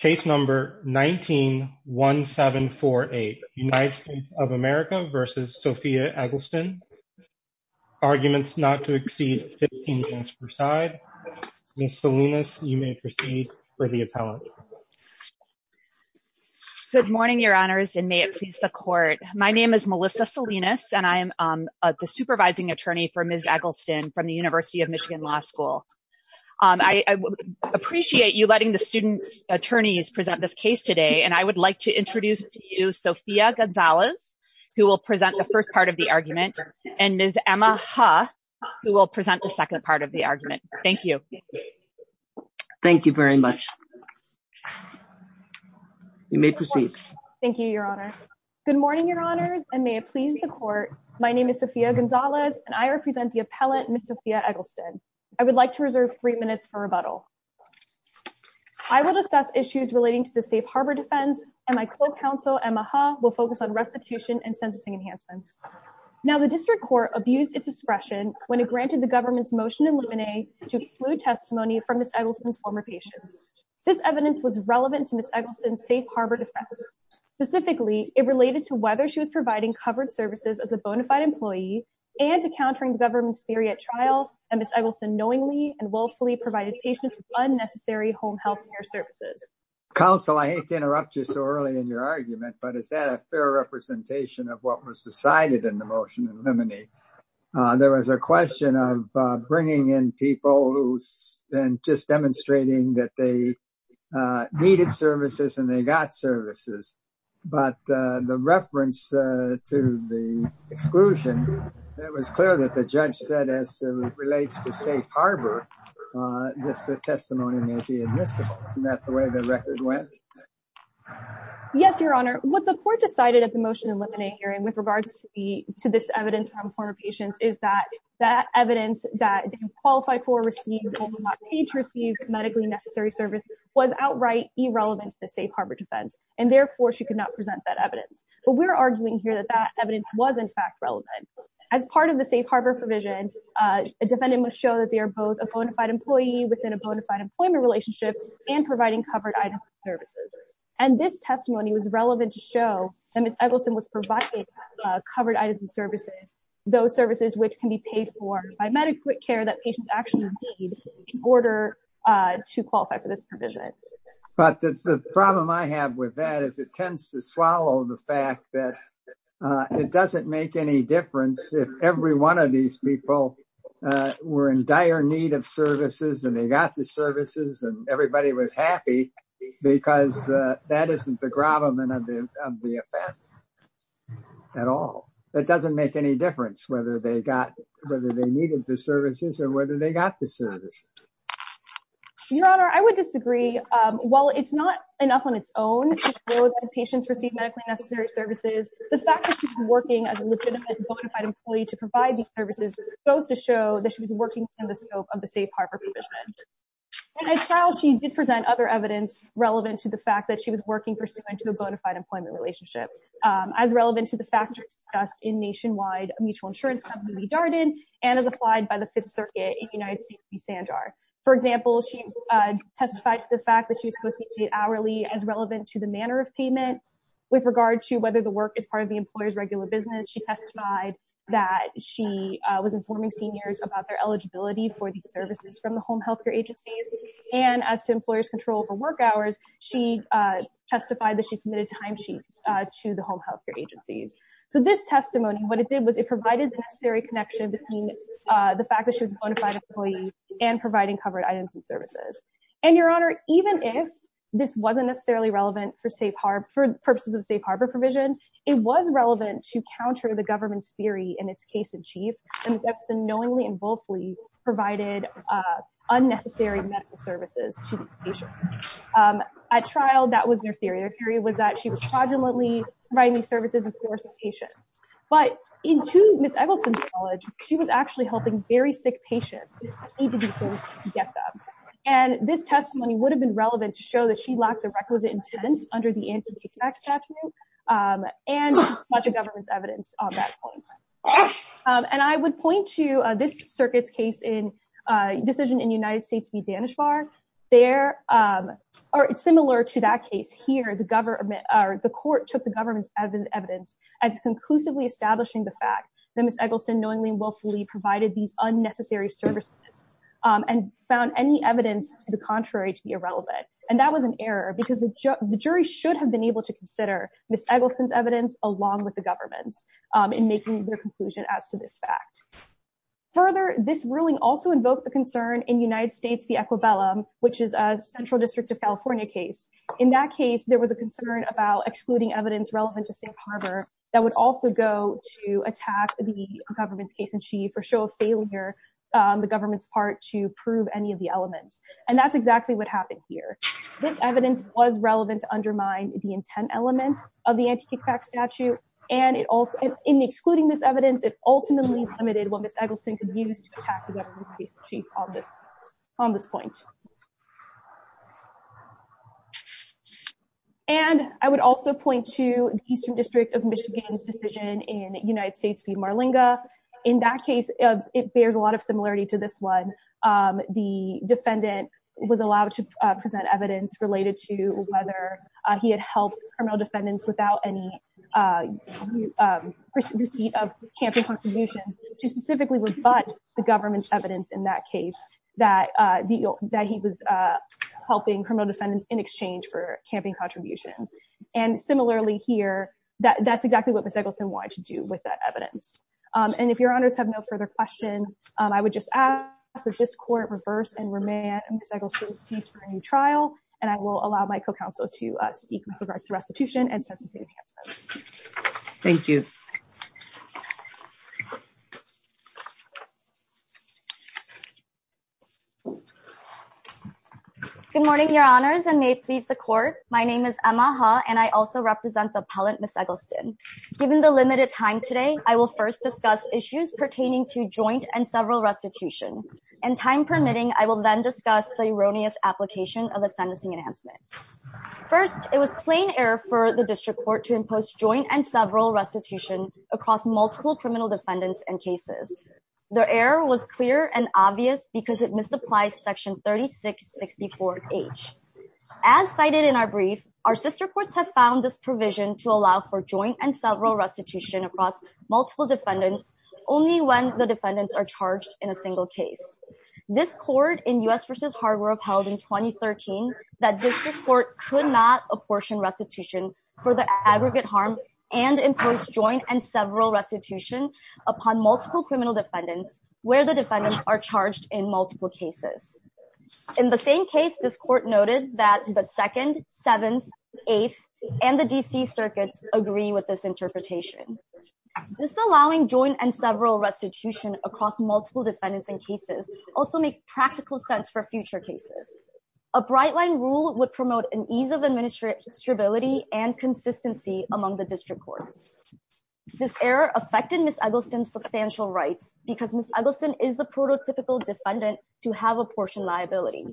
Case No. 19-1748 United States of America v. Sophia Eggleston Arguments not to exceed 15 minutes per side Ms. Salinas you may proceed for the appellate Good morning your honors and may it please the court my name is Melissa Salinas and I am the supervising attorney for Ms. Eggleston from the University of Michigan Law School. I appreciate you letting the student attorneys present this case today and I would like to introduce to you Sophia Gonzalez who will present the first part of the argument and Ms. Emma Ha who will present the second part of the argument. Thank you. Thank you very much. You may proceed. Thank you your honor. Good morning your honors and may it please the court my name is Sophia Gonzalez and I would like to reserve three minutes for rebuttal. I will discuss issues relating to the safe harbor defense and my co-counsel Emma Ha will focus on restitution and censusing enhancements. Now the district court abused its discretion when it granted the government's motion in limine to exclude testimony from Ms. Eggleston's former patients. This evidence was relevant to Ms. Eggleston's safe harbor defense. Specifically it related to whether she was providing covered services as a bona fide employee and to countering the government's trials and Ms. Eggleston knowingly and willfully provided patients with unnecessary home health care services. Counsel I hate to interrupt you so early in your argument but is that a fair representation of what was decided in the motion in limine. There was a question of bringing in people who's been just demonstrating that they needed services and they got services but the reference to the exclusion it was clear that the judge said as it relates to safe harbor this testimony may be admissible. Isn't that the way the record went? Yes your honor what the court decided at the motion in limine hearing with regards to the to this evidence from former patients is that that evidence that qualified for received age received medically necessary service was outright irrelevant to safe harbor defense and therefore she could not present that evidence. But we're arguing here that that relevant as part of the safe harbor provision a defendant must show that they are both a bona fide employee within a bona fide employment relationship and providing covered items and services. And this testimony was relevant to show that Ms. Eggleston was providing covered items and services those services which can be paid for by medical care that patients actually need in order to qualify for this provision. But the problem I have with that is it tends to if every one of these people were in dire need of services and they got the services and everybody was happy because that isn't the gravamen of the of the offense at all. That doesn't make any difference whether they got whether they needed the services or whether they got the service. Your honor I would disagree. While it's not enough on its own to show that patients receive medically necessary services the fact that she's working as a legitimate bona fide employee to provide these services goes to show that she was working within the scope of the safe harbor provision. And as trial she did present other evidence relevant to the fact that she was working pursuant to a bona fide employment relationship as relevant to the factors discussed in nationwide mutual insurance company Darden and as applied by the Fifth Circuit in United States v Sanjar. For example she testified to the fact that she was supposed to be paid hourly as relevant to the manner of payment with regard to whether the work is part of the employer's regular business. She testified that she was informing seniors about their eligibility for these services from the home health care agencies and as to employers control for work hours she testified that she submitted time sheets to the home health care agencies. So this testimony what it did was it provided the necessary connection between the fact that she was a bona fide employee and providing covered items and services. And your honor even if this wasn't necessarily relevant for safe harbor for purposes of safe harbor provision it was relevant to counter the government's theory in its case in chief and that's a knowingly and woefully provided unnecessary medical services to these patients. At trial that was their theory. Their theory was that she was fraudulently providing these services of course of patients. But in to Ms. Eggleston's knowledge she was actually helping very sick patients need to get them. And this testimony would have been relevant to show that she lacked the requisite intent under the anti-tax statute and got the government's evidence on that point. And I would point to this circuit's case in decision in United States v. Danish Bar there or similar to that case here the government or the court took the government's evidence as conclusively establishing the fact that Ms. Eggleston knowingly and willfully provided these unnecessary services and found any evidence to the contrary to be irrelevant. And that was an error because the jury should have been able to consider Ms. Eggleston's evidence along with the government's in making their conclusion as to this fact. Further this ruling also invoked the concern in United States v. Equibellum which is a central district of California case. In that case there was a concern about excluding evidence relevant to safe harbor that would also go to attack the government's case in chief or show a failure the government's part to prove any of the happened here. This evidence was relevant to undermine the intent element of the anti-kickback statute and in excluding this evidence it ultimately limited what Ms. Eggleston could use to attack the government's case in chief on this on this point. And I would also point to the eastern district of Michigan's decision in United States v. Marlinga. In that case it bears a lot of similarity to this one. The present evidence related to whether he had helped criminal defendants without any receipt of camping contributions to specifically rebut the government's evidence in that case that he was helping criminal defendants in exchange for camping contributions. And similarly here that's exactly what Ms. Eggleston wanted to do with that evidence. And if your honors have no further questions I would just ask that this court reverse and remand Ms. Eggleston's for a new trial and I will allow my co-counsel to speak with regards to restitution and sentencing enhancements. Thank you. Good morning your honors and may it please the court. My name is Emma Ha and I also represent the appellant Ms. Eggleston. Given the limited time today I will first discuss issues pertaining to joint and several restitutions and time permitting I will then discuss the erroneous application of the sentencing enhancement. First it was plain error for the district court to impose joint and several restitution across multiple criminal defendants and cases. The error was clear and obvious because it misapplies section 3664h. As cited in our brief our sister courts have found this provision to allow for joint and several restitution across multiple defendants only when the defendants are charged in a case. This court in U.S. versus Harvard upheld in 2013 that district court could not apportion restitution for the aggregate harm and impose joint and several restitution upon multiple criminal defendants where the defendants are charged in multiple cases. In the same case this court noted that the 2nd, 7th, 8th and the D.C. circuits agree with this interpretation. Disallowing joint and several restitution across multiple defendants and cases also makes practical sense for future cases. A bright line rule would promote an ease of administrative stability and consistency among the district courts. This error affected Ms. Eggleston's substantial rights because Ms. Eggleston is the prototypical defendant to have apportioned liability.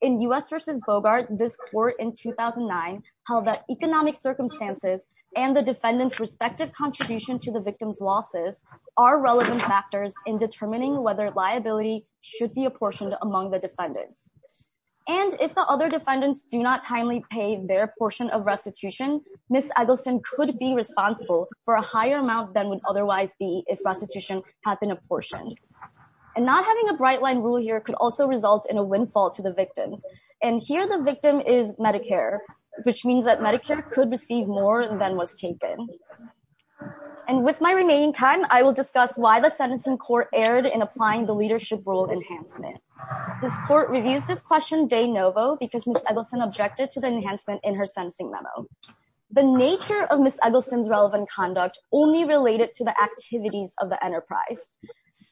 In U.S. versus Bogart this court in 2009 held that economic circumstances and the defendant's respective contribution to the victim's losses are relevant factors in determining whether liability should be apportioned among the defendants. And if the other defendants do not timely pay their portion of restitution Ms. Eggleston could be responsible for a higher amount than would otherwise be if restitution had been apportioned. And not having a bright line rule here could also result in a windfall to the victims. And here the victim is Medicare which means that Medicare could receive more than was taken. And with my remaining time I will discuss why the sentencing court erred in applying the leadership role enhancement. This court reviews this question de novo because Ms. Eggleston objected to the enhancement in her sentencing memo. The nature of Ms. Eggleston's relevant conduct only related to the activities of the enterprise.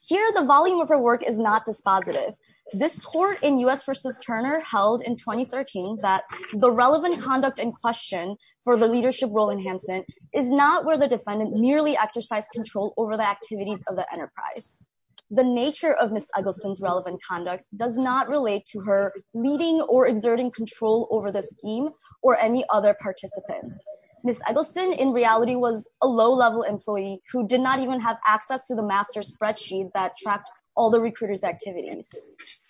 Here the volume of her work is not dispositive. This court in U.S. versus Turner held in 2013 that the relevant conduct in question for the leadership role enhancement is not where the defendant merely exercised control over the activities of the enterprise. The nature of Ms. Eggleston's relevant conduct does not relate to her leading or exerting control over the scheme or any other participant. Ms. Eggleston in reality was a low-level employee who did not even have access to the master spreadsheet that tracked all the recruiters activities.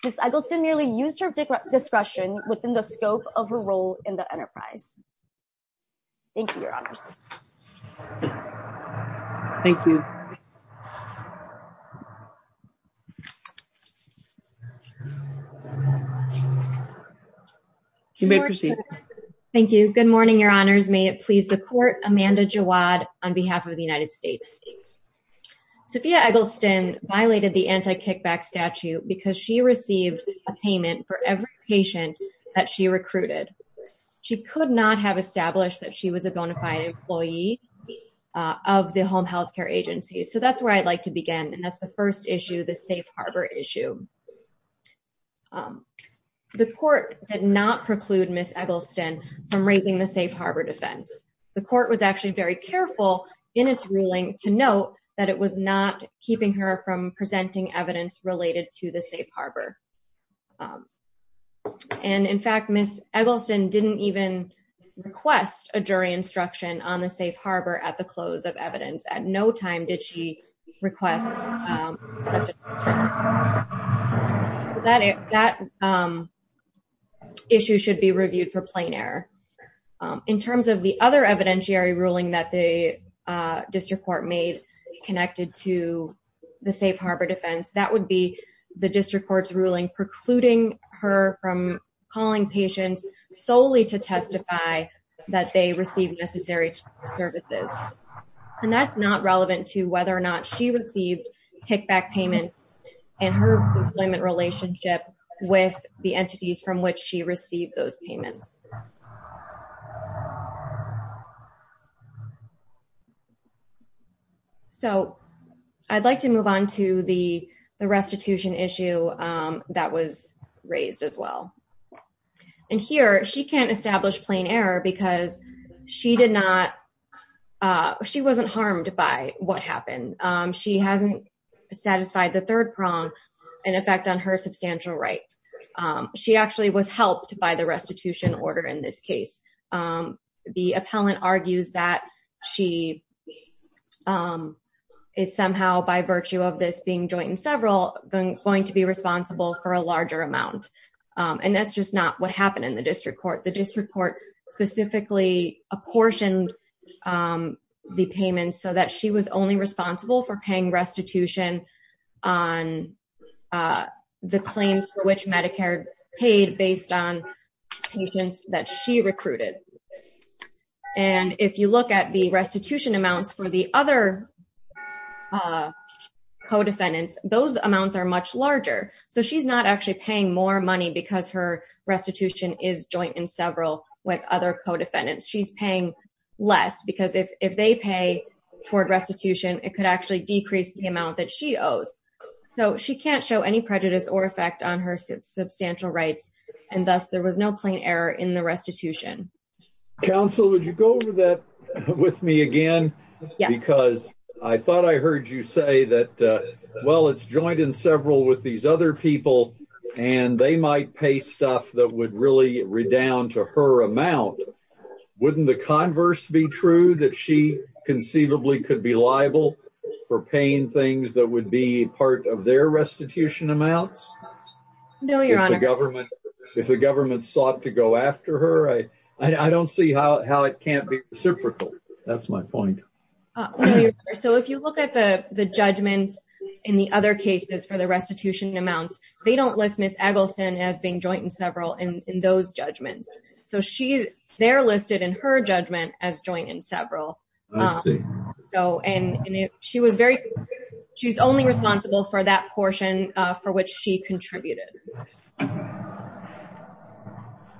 Ms. Eggleston merely used her discretion within the scope of her role in the case. Thank you your honors. Thank you. You may proceed. Thank you. Good morning your honors. May it please the court Amanda Jawad on behalf of the United States. Sophia Eggleston violated the anti-kickback statute because she received a payment for every patient that she recruited. She could not have established that she was a bona fide employee of the home health care agency. So that's where I'd like to begin and that's the first issue the safe harbor issue. The court did not preclude Ms. Eggleston from raising the safe harbor defense. The court was actually very careful in its ruling to note that it was not keeping her from presenting evidence related to the safe harbor. And in fact Ms. Eggleston didn't even request a jury instruction on the safe harbor at the close of evidence. At no time did she request such an instruction. That issue should be reviewed for plain error. In terms of the other evidentiary ruling that the district court made connected to the safe harbor defense, that would be the district court's ruling precluding her from calling patients solely to testify that they received necessary services. And that's not relevant to whether or not she received kickback payment and her employment relationship with the entities from which she received those payments. So I'd like to move on to the the restitution issue that was raised as well. And here she can't establish plain error because she did not, she wasn't harmed by what happened. She hasn't satisfied the third prong in effect on her substantial right. She actually was helped by the order in this case. The appellant argues that she is somehow by virtue of this being joint and several going to be responsible for a larger amount. And that's just not what happened in the district court. The district court specifically apportioned the payments so that she was only responsible for paying restitution on the claims for which medicare paid based on patients that she recruited. And if you look at the restitution amounts for the other co-defendants, those amounts are much larger. So she's not actually paying more money because her restitution is joint and several with other co-defendants. She's paying less because if if they pay toward it could actually decrease the amount that she owes. So she can't show any prejudice or effect on her substantial rights and thus there was no plain error in the restitution. Counsel, would you go over that with me again? Yes. Because I thought I heard you say that well it's joint and several with these other people and they might pay stuff that would really redound to her amount. Wouldn't the converse be true that she conceivably could be liable for paying things that would be part of their restitution amounts? No, your honor. If the government sought to go after her? I don't see how it can't be reciprocal. That's my point. So if you look at the the judgments in the other cases for the restitution amounts, they don't list Ms. Eggleston as being in those judgments. So she they're listed in her judgment as joint and several. I see. So and she was very she's only responsible for that portion for which she contributed.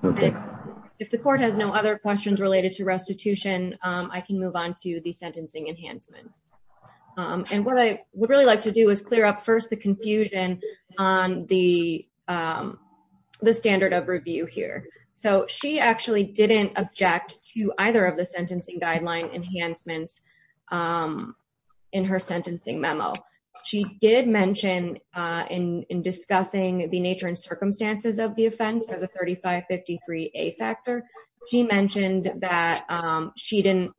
Okay. If the court has no other questions related to restitution I can move on to the sentencing enhancements. And what I would really like to do is clear up first the confusion on the the standard of review here. So she actually didn't object to either of the sentencing guideline enhancements in her sentencing memo. She did mention in discussing the nature and circumstances of the offense as a 35-53 A factor. She mentioned that she didn't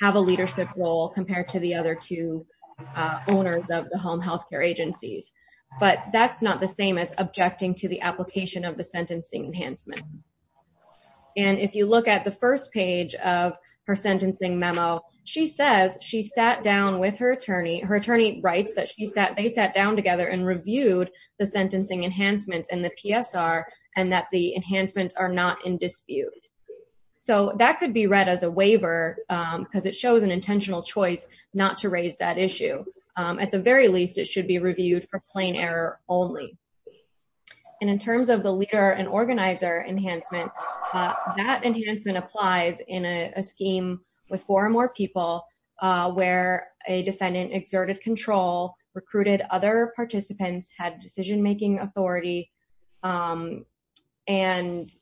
have a leadership role compared to the but that's not the same as objecting to the application of the sentencing enhancement. And if you look at the first page of her sentencing memo, she says she sat down with her attorney. Her attorney writes that she sat they sat down together and reviewed the sentencing enhancements and the PSR and that the enhancements are not in dispute. So that could be read as a waiver because it shows an intentional choice not to raise that issue. At the very least it should be reviewed for plain error only. And in terms of the leader and organizer enhancement, that enhancement applies in a scheme with four or more people where a defendant exerted control, recruited other participants, had decision-making authority, and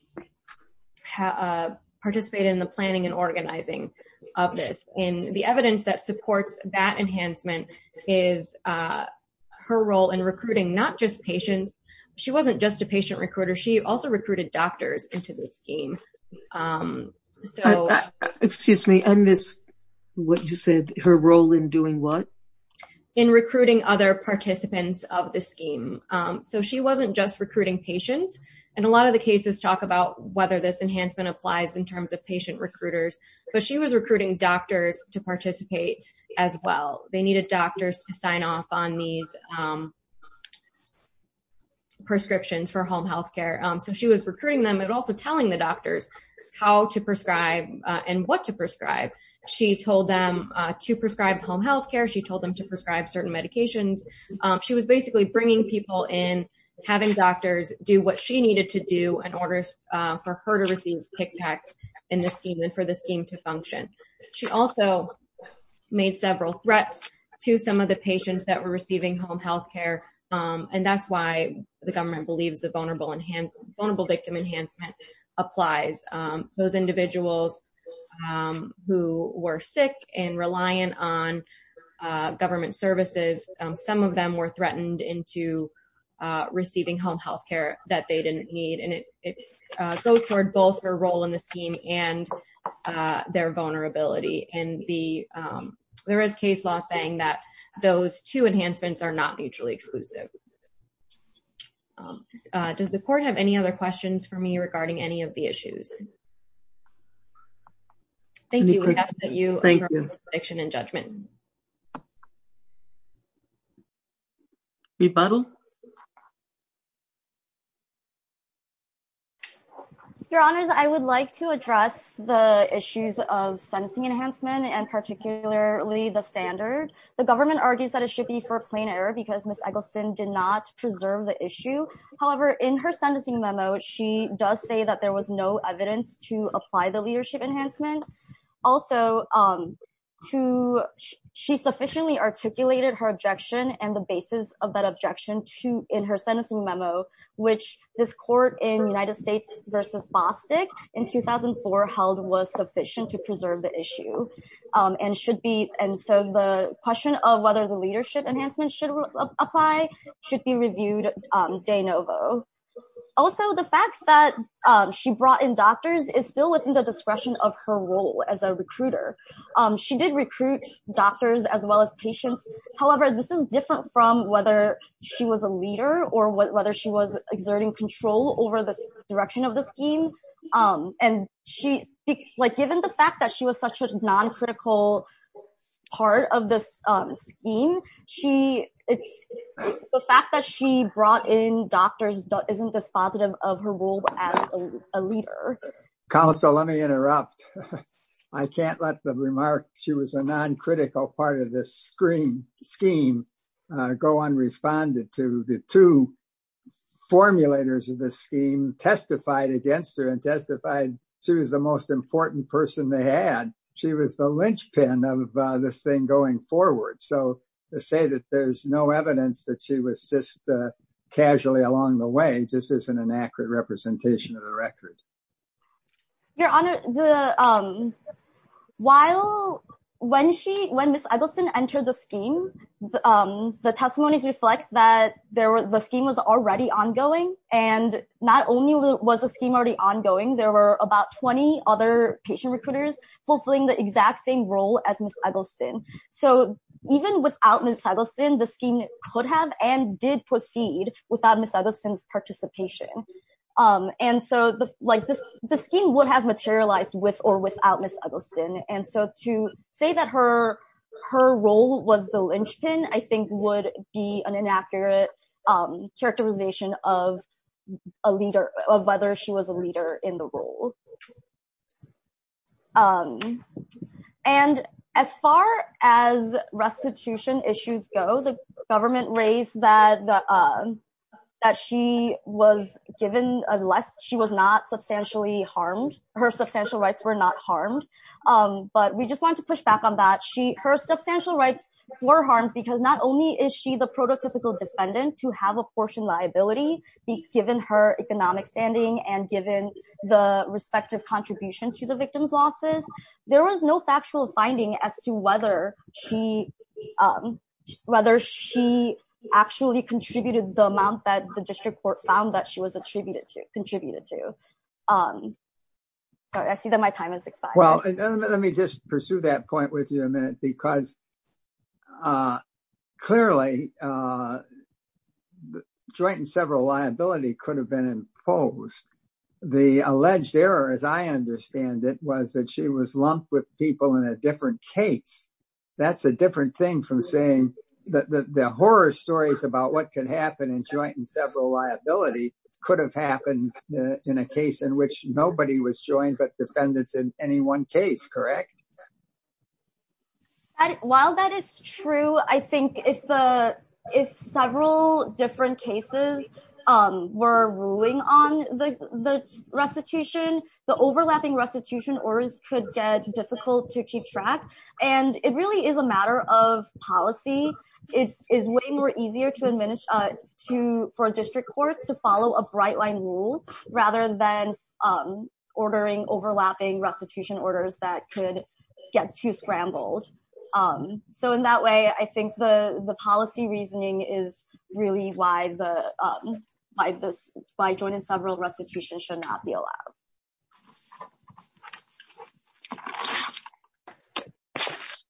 participated in the planning and organizing of this. And the evidence that supports that enhancement is her role in recruiting not just patients, she wasn't just a patient recruiter, she also recruited doctors into the scheme. So excuse me, and this what you said her role in doing what? In recruiting other participants of the scheme. So she wasn't just recruiting patients and a lot of the cases talk about whether this enhancement applies in terms of patient recruiters, but she was recruiting doctors to participate as well. They needed doctors to sign off on these prescriptions for home health care. So she was recruiting them and also telling the doctors how to prescribe and what to prescribe. She told them to prescribe home health care, she told them to prescribe certain medications. She was basically bringing people in, having doctors do what she needed to do in order for her to receive kickbacks in the scheme and for the scheme to function. She also made several threats to some of the patients that were receiving home health care, and that's why the government believes the vulnerable victim enhancement applies. Those individuals who were sick and reliant on government services, some of them were threatened into receiving home health care that they didn't need, and it goes toward both her role in the scheme and their vulnerability. And there is case law saying that those two enhancements are not mutually exclusive. Does the court have any other questions for me regarding any of the issues? Thank you, we have to let you make your decision and judgment. Rebuttal? Your honors, I would like to address the issues of sentencing enhancement and particularly the standard. The government argues that it should be for plain error because Ms. Eggleston did not preserve the issue. However, in her sentencing memo, she does say that there was no evidence to apply the leadership enhancement. Also, to she sufficiently articulated her objection and the basis of that objection in her sentencing memo, which this court in United States versus Bostick in 2004 held was sufficient to preserve the issue. And so the question of whether the leadership enhancement should apply should be reviewed de novo. Also, the fact that she brought in doctors is still within the discretion of her role as a recruiter. She did recruit doctors as well as patients. However, this is different from whether she was a leader or whether she was exerting control over the direction of the scheme. And given the fact that she was such a non-critical part of this scheme, the fact that she brought in doctors isn't dispositive of her role as a leader. Counsel, let me interrupt. I can't let the remark she was a non-critical part of this scheme go unresponded to. The two formulators of the scheme testified against her and testified she was the most important person they had. She was the linchpin of this thing going forward. So to say that there's no evidence that she was just casually along the way just isn't an Your Honor, when Ms. Eggleston entered the scheme, the testimonies reflect that the scheme was already ongoing. And not only was the scheme already ongoing, there were about 20 other patient recruiters fulfilling the exact same role as Ms. Eggleston. So even without Ms. Eggleston, the scheme could have and did proceed without Ms. Eggleston's participation. And so the scheme would have materialized with or without Ms. Eggleston. And so to say that her role was the linchpin, I think, would be an inaccurate characterization of whether she was a leader in the role. And as far as restitution issues go, the government raised that she was given, unless she was not substantially harmed, her substantial rights were not harmed. But we just want to push back on that. Her substantial rights were harmed because not only is she the prototypical defendant to have a portion liability, given her economic standing and given the respective contribution to the victim's losses, there was no factual finding as to whether she actually contributed the amount that the was attributed to, contributed to. I see that my time has expired. Well, let me just pursue that point with you a minute, because clearly joint and several liability could have been imposed. The alleged error, as I understand it, was that she was lumped with people in a different case. That's a different thing from saying that the horror stories about what could happen in joint and several liability could have happened in a case in which nobody was joined but defendants in any one case, correct? While that is true, I think if several different cases were ruling on the restitution, the overlapping restitution orders could get difficult to keep and it really is a matter of policy. It is way more easier for district courts to follow a bright line rule rather than ordering overlapping restitution orders that could get too scrambled. In that way, I think the policy reasoning is really why joint and several restitution should not be allowed.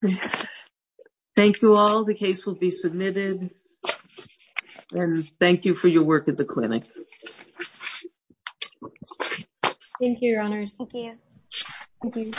Okay. Thank you all. The case will be submitted and thank you for your work at the clinic. Thank you, Your Honors. Thank you.